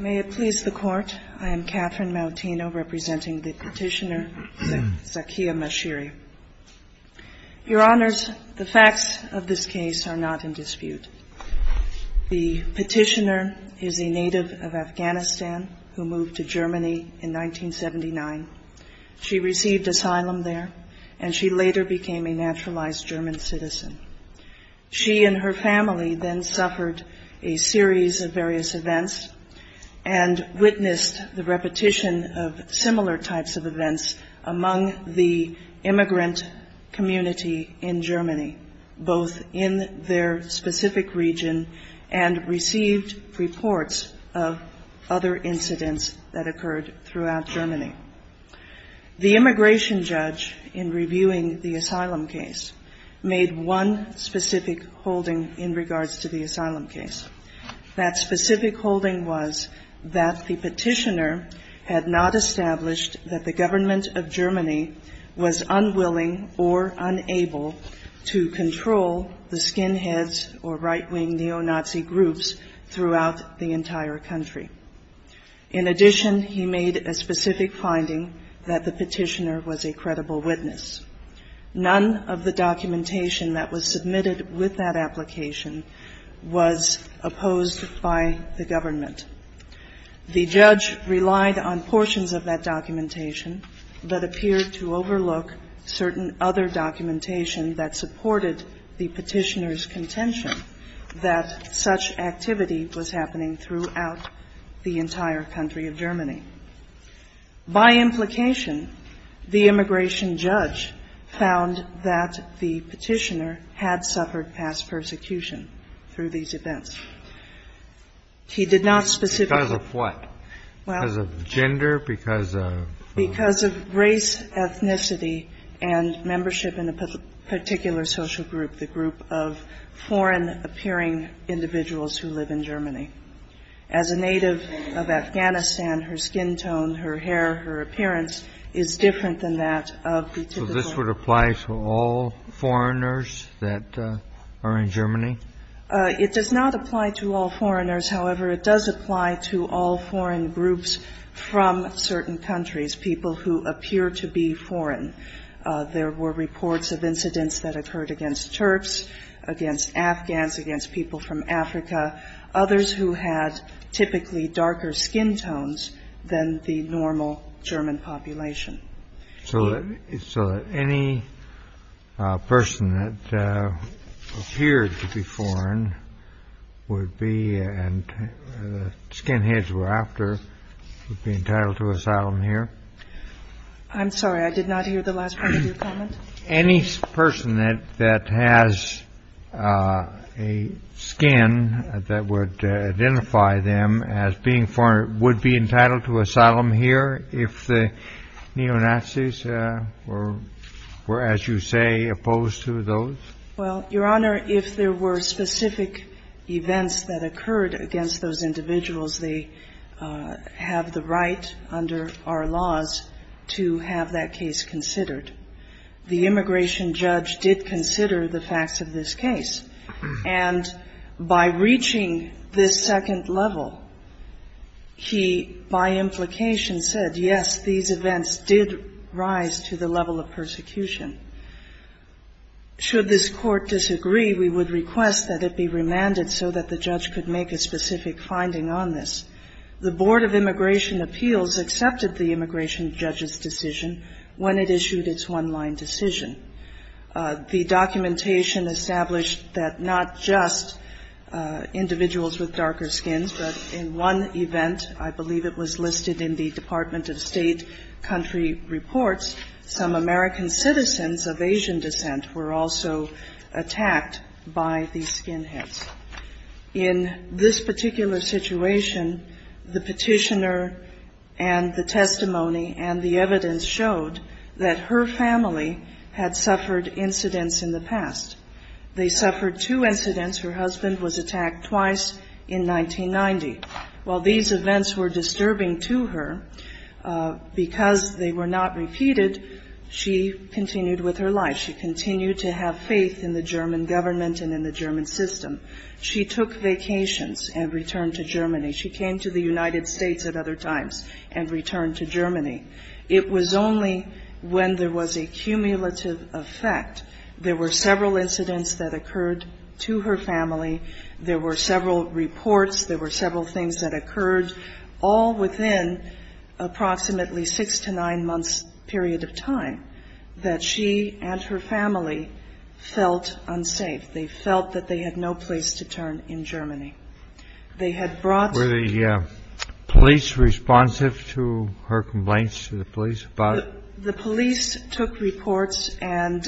May it please the Court, I am Catherine Maltino, representing the Petitioner, Secretary of Your Honors, the facts of this case are not in dispute. The Petitioner is a native of Afghanistan who moved to Germany in 1979. She received asylum there, and she later became a naturalized German citizen. She and her family then suffered a series of various events and witnessed the repetition of similar types of events among the immigrant community in Germany, both in their specific region and received reports of other incidents that occurred throughout Germany. The immigration judge in reviewing the asylum case made one specific holding in regards to the asylum case. That specific holding was that the Petitioner had not established that the government of Germany was unwilling or unable to control the skinheads or right-wing neo-Nazi groups throughout the country. None of the documentation that was submitted with that application was opposed by the government. The judge relied on portions of that documentation but appeared to overlook certain other documentation that supported the Petitioner's contention that such activity was happening throughout the entire country of Germany. By implication, the immigration judge found that the Petitioner had suffered past persecution through these events. He did not specifically ---- Kennedy. Because of what? Because of gender? Because of ---- As a native of Afghanistan, her skin tone, her hair, her appearance is different than that of the typical ---- So this would apply to all foreigners that are in Germany? It does not apply to all foreigners. However, it does apply to all foreign groups from certain countries, people who appear to be foreign. There were reports of incidents that occurred against Turks, against Afghans, against people from Africa, others who had typically darker skin tones than the normal German population. So any person that appeared to be foreign would be, and the skinheads were after, would be entitled to asylum here? I'm sorry, I did not hear the last part of your comment. Any person that has a skin that would identify them as being foreign would be entitled to asylum here if the neo-Nazis were, as you say, opposed to those? Well, Your Honor, if there were specific events that occurred against those individuals, they have the right under our laws to have that case considered. The immigration judge did consider the facts of this case. And by reaching this second level, he, by implication, said, yes, these events did rise to the level of persecution. Should this Court disagree, we would request that it be remanded so that the judge could make a specific finding on this. The Board of Immigration Appeals accepted the immigration judge's decision when it issued its one-line decision. The documentation established that not just individuals with darker skins, but in one event, I believe it was listed in the Department of State reports, some American citizens of Asian descent were also attacked by these skinheads. In this particular situation, the petitioner and the testimony and the evidence showed that her family had suffered incidents in the past. They suffered two incidents. Her husband was attacked twice in 1990. While these events were disturbing to her, because they were not repeated, she continued with her life. She continued to have faith in the German government and in the German system. She took vacations and returned to Germany. She came to the United States at other times and returned to Germany. It was only when there was a cumulative effect, there were several incidents that occurred to her family, there were several reports, there were several things that occurred, all within approximately six to nine months' period of time, that she and her family felt unsafe. They felt that they had no place to turn in Germany. Were the police responsive to her complaints to the police about it? The police took reports and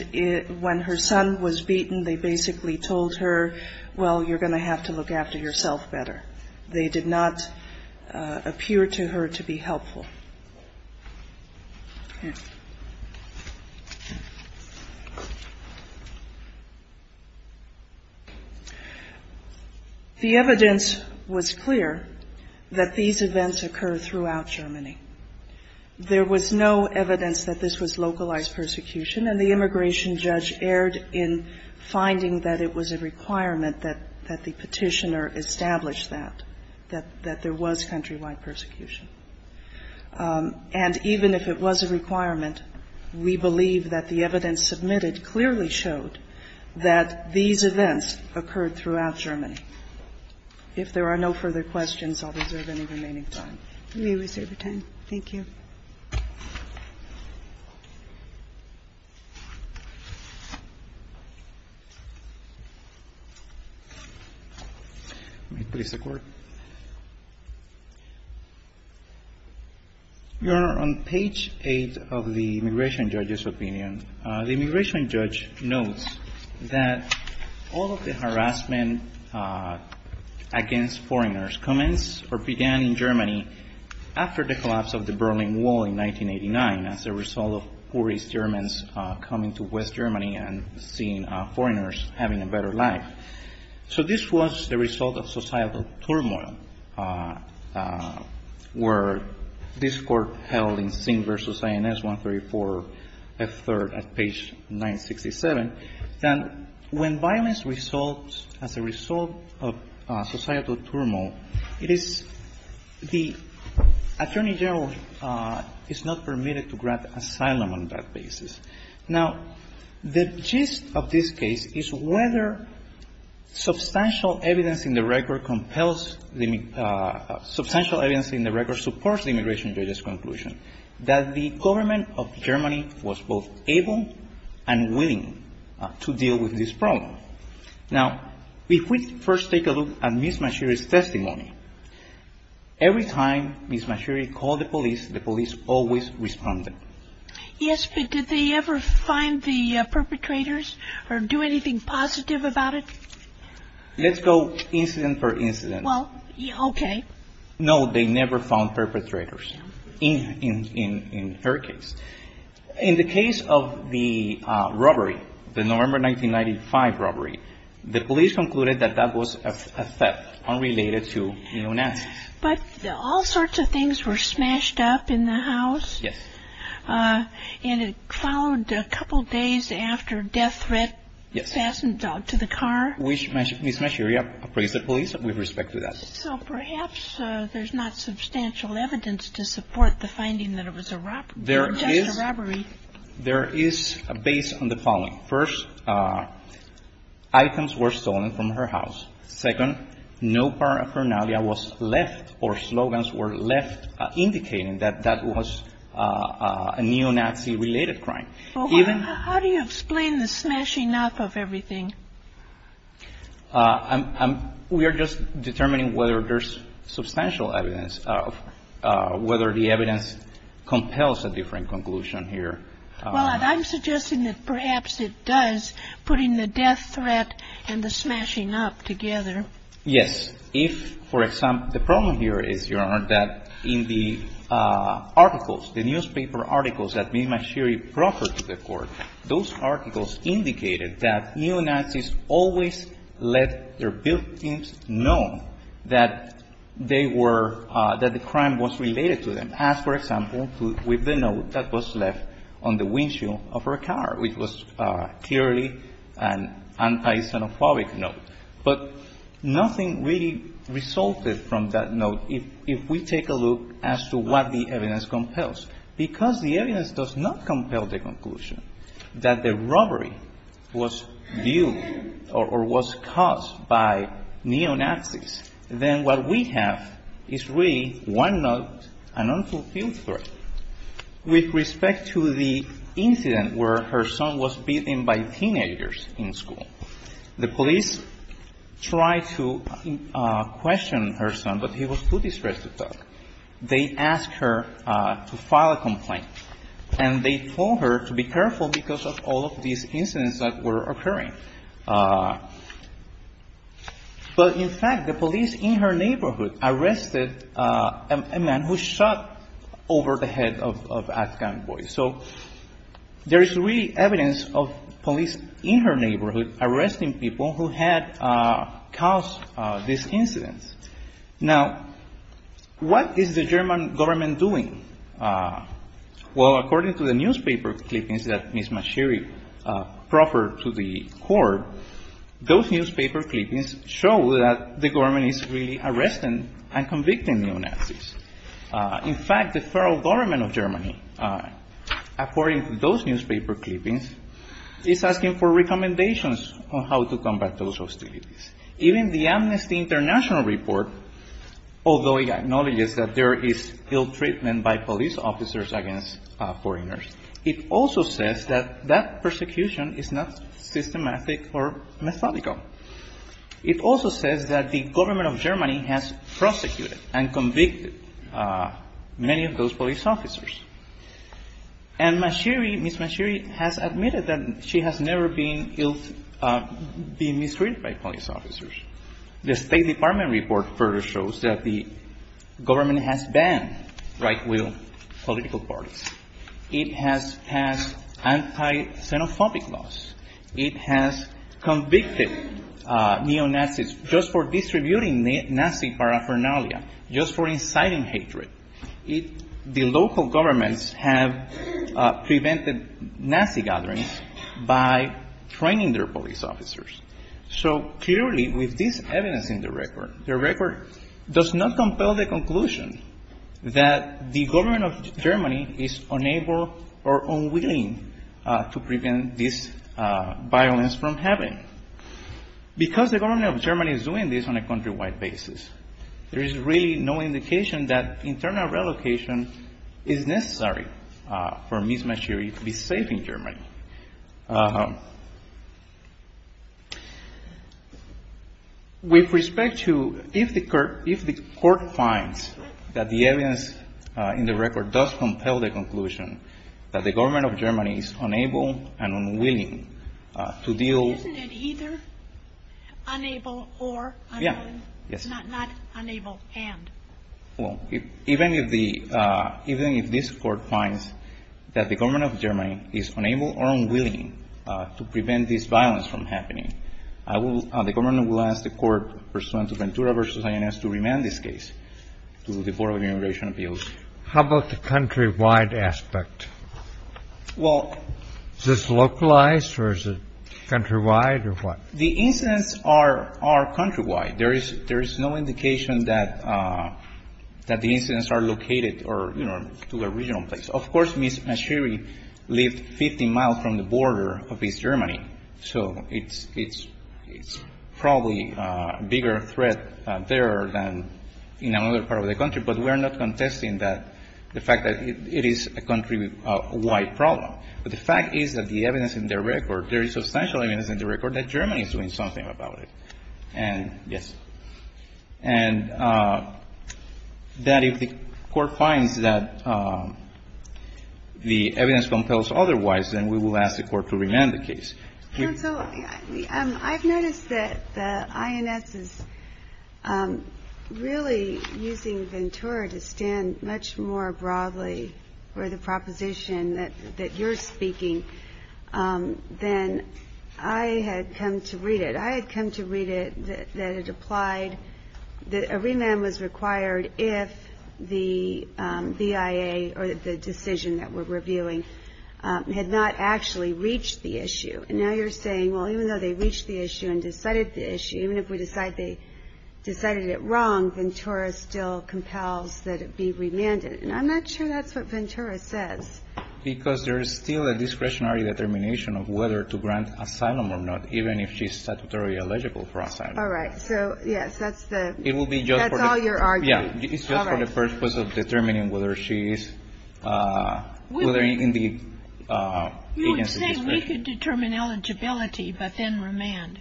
when her son was beaten, they basically told her, well, you're going to have to look after yourself better. They did not appear to her to be helpful. The evidence was clear that these events occurred throughout Germany. There was no evidence that this was localized persecution and the immigration judge erred in finding that it was a requirement that the petitioner establish that, that there was countrywide persecution. And even if it was a requirement, we believe that the evidence submitted clearly showed that these events occurred throughout Germany. If there are no further questions, I'll reserve any remaining time. We reserve your time. Thank you. Your Honor, on page eight of the immigration judge's opinion, the immigration judge notes that all of the harassment against foreigners commenced or began in Germany after the collapse of the Berlin Wall in 1989 as a result of poorest Germans coming to West Germany and seeing them as a result of societal turmoil, where this Court held in Singh v. INS 134 F. 3rd at page 967, that when violence results as a result of societal turmoil, it is the attorney general is not permitted to grant asylum on that basis. Now, the gist of this case is whether substantial evidence in the record compels the — substantial evidence in the record supports the immigration judge's conclusion that the government of Germany was both able and willing to deal with this problem. Now, if we first take a look at Ms. Mashiri's testimony, every time Ms. Mashiri called the police, the police always responded. Yes, but did they ever find the perpetrators or do anything positive about it? Let's go incident per incident. Well, okay. No, they never found perpetrators in her case. In the case of the robbery, the November 1995 robbery, the police concluded that that was a theft and it followed a couple days after death threat, assassin dog to the car. Which Ms. Mashiri appraised the police with respect to that. So perhaps there's not substantial evidence to support the finding that it was a robbery. There is a base on the following. First, items were stolen from her house. Second, no part of her navel was left or slogans were left indicating that that was a neo-Nazi-related crime. How do you explain the smashing up of everything? We are just determining whether there's substantial evidence of whether the evidence compels a different conclusion here. Well, I'm suggesting that perhaps it does, putting the death threat and the smashing up together. Yes. If, for example, the problem here is, Your Honor, that in the articles, the newspaper articles that Ms. Mashiri proffered to the court, those articles indicated that neo-Nazis always let their built-ins know that they were, that the crime was related to them, as, for example, with the note that was left on the windshield of her car, which was clearly an anti-xenophobic note. But nothing really resulted from that note. If we take a look as to what the evidence compels, because the evidence does not compel the conclusion that the robbery was viewed or was caused by neo-Nazis, then what we have is really one note, an unfulfilled threat. With respect to the incident where her son was beaten by teenagers in school, the police tried to question her son, but he was too distressed to talk. They asked her to file a complaint. And they told her to be careful because of all of these incidents that were occurring. But, in fact, the police in her neighborhood arrested a man who shot over the head of an Afghan boy. So there is really evidence of police in her neighborhood arresting people who had caused this incident. Now, what is the German government doing? Well, according to the newspaper clippings that Ms. Mashiri proffered to the court, those newspaper clippings show that the government is really arresting and convicting neo-Nazis. In fact, the federal government of Germany, according to those newspaper clippings, is asking for recommendations on how to combat those hostilities. Even the Amnesty International report, although it acknowledges that there is ill-treatment by police officers against foreigners, it also says that that persecution is not systematic or methodical. It also says that the government of Germany has prosecuted and convicted many of those police officers. And Ms. Mashiri has admitted that she has never been mistreated by police officers. The State Department report further shows that the government has banned right-wing political parties. It has passed anti-xenophobic laws. It has convicted neo-Nazis just for distributing Nazi paraphernalia, just for inciting hatred. The local governments have prevented Nazi gatherings by training their police officers. So clearly, with this evidence in the record, the record does not compel the conclusion that the government of Germany is unable or unwilling to prevent this violence from happening. Because the government of Germany is doing this on a countrywide basis, there is really no indication that internal relocation is necessary for Ms. Mashiri to be safe in Germany. With respect to if the court finds that the evidence in the record does compel the conclusion that the government of Germany is unable and unwilling to deal... Isn't it either unable or unable, not unable and? Even if this court finds that the government of Germany is unable or unwilling to prevent this violence from happening, the government will ask the court, Pursuant to Ventura v. INS, to remand this case to the Board of Immigration Appeals. How about the countrywide aspect? Is this localized or is it countrywide or what? The incidents are countrywide. There is no indication that the incidents are located to a regional place. Of course, Ms. Mashiri lived 50 miles from the border of East Germany. So it's probably a bigger threat there than in another part of the country. But we're not contesting the fact that it is a countrywide problem. But the fact is that the evidence in the record, there is substantial evidence in the record that Germany is doing something about it. And yes. And that if the court finds that the evidence compels otherwise, then we will ask the court to remand the case. Counsel, I've noticed that the INS is really using Ventura to stand much more broadly for the proposition that you're speaking than I had come to read it. That it applied, that a remand was required if the BIA or the decision that we're reviewing had not actually reached the issue. And now you're saying, well, even though they reached the issue and decided the issue, even if we decide they decided it wrong, Ventura still compels that it be remanded. And I'm not sure that's what Ventura says. Because there is still a discretionary determination of whether to grant asylum or not, even if she's statutorily eligible for asylum. All right. So, yes, that's all your argument. It's just for the purpose of determining whether she is in the agency discretion. You would say we could determine eligibility, but then remand.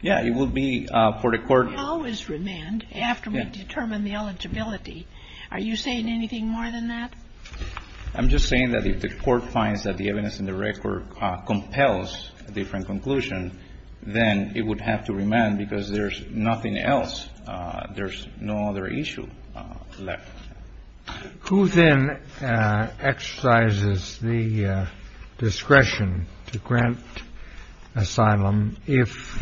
Yeah, it would be for the court. How is remand after we determine the eligibility? Are you saying anything more than that? I'm just saying that if the court finds that the evidence in the record compels a different conclusion, then it would have to remand because there's nothing else. There's no other issue left. Who then exercises the discretion to grant asylum if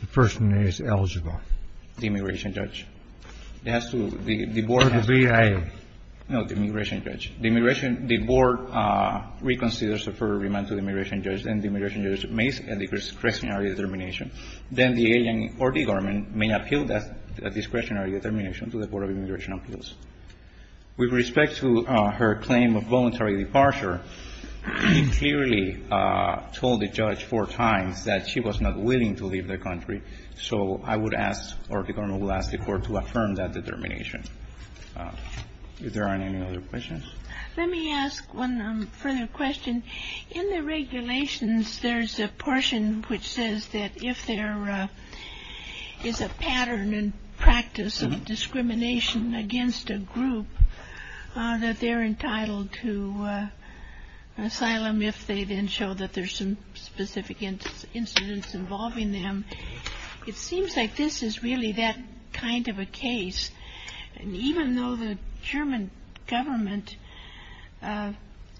the person is eligible? The immigration judge. It has to be the board. Or the VA. No, the immigration judge. The immigration judge. The board reconsiders a further remand to the immigration judge, and the immigration judge makes a discretionary determination. Then the agent or the government may appeal that discretionary determination to the board of immigration appeals. With respect to her claim of voluntary departure, she clearly told the judge four times that she was not willing to leave the country. So I would ask, or the government would ask the court to affirm that determination. If there aren't any other questions. Let me ask one further question. In the regulations, there's a portion which says that if there is a pattern and practice of discrimination against a group, that they're entitled to asylum if they then show that there's some specific incidents involving them. It seems like this is really that kind of a case. Even though the German government, at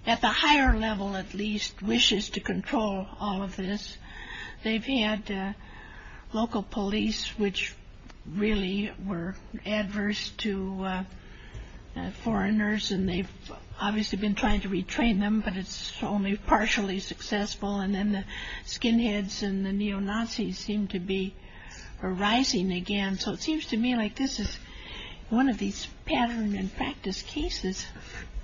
the higher level at least, wishes to control all of this, they've had local police, which really were adverse to foreigners, and they've obviously been trying to retrain them, but it's only partially successful. And then the skinheads and the neo-Nazis seem to be rising again. So it seems to me like this is one of these pattern and practice cases.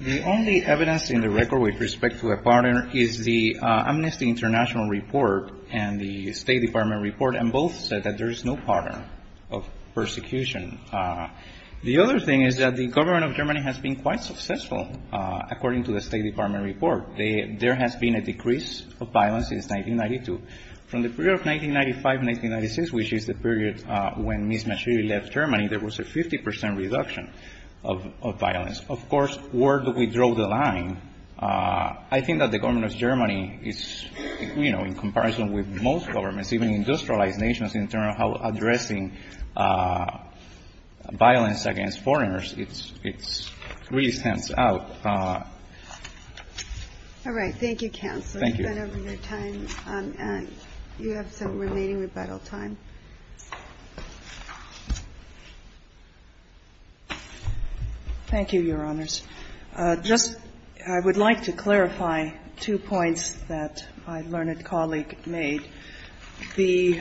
The only evidence in the record with respect to a pattern is the Amnesty International report and the State Department report, and both said that there is no pattern of persecution. The other thing is that the government of Germany has been quite successful, according to the State Department report. There has been a decrease of violence since 1992. From the period of 1995-1996, which is the period when Ms. Maschiri left Germany, there was a 50 percent reduction of violence. Of course, where do we draw the line? I think that the government of Germany is, you know, in comparison with most governments, even industrialized nations in terms of how addressing violence against foreigners, it's really stands out. All right. Thank you, counsel. Thank you. We've gone over your time. You have some remaining rebuttal time. Thank you, Your Honors. Just, I would like to clarify two points that my learned colleague made. The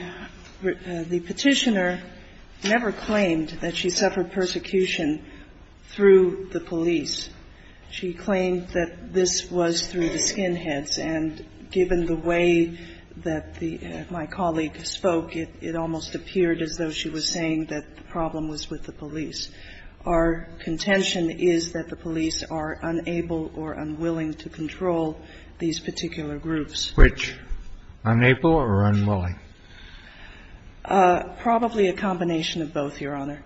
Petitioner never claimed that she suffered persecution through the police. She claimed that this was through the skinheads. And given the way that my colleague spoke, it almost appeared as though she was saying that the problem was with the police. Our contention is that the police are unable or unwilling to control these particular groups. Which? Unable or unwilling? Probably a combination of both, Your Honor.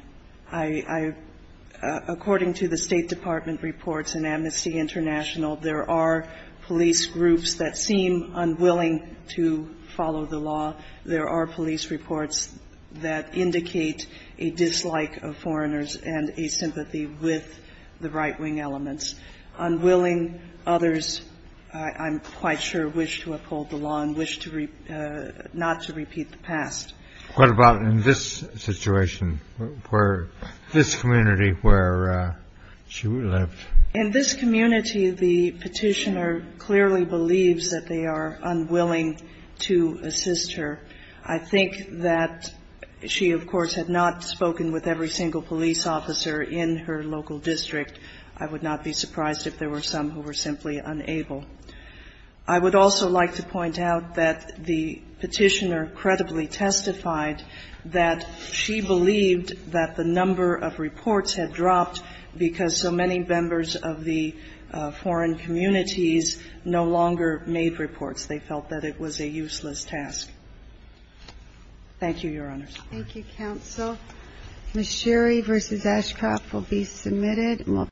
According to the State Department reports and Amnesty International, there are police groups that seem unwilling to follow the law. There are police reports that indicate a dislike of foreigners and a sympathy with the right-wing elements. Unwilling, others, I'm quite sure, wish to uphold the law and wish not to repeat the past. What about in this situation, where this community where she lived? In this community, the Petitioner clearly believes that they are unwilling to assist her. I think that she, of course, had not spoken with every single police officer in her local district. I would not be surprised if there were some who were simply unable. I would also like to point out that the Petitioner credibly testified that she believed that the number of reports had dropped because so many members of the foreign communities no longer made reports. They felt that it was a useless task. Thank you, Your Honors. Thank you, counsel. Ms. Sherry v. Ashcroft will be submitted.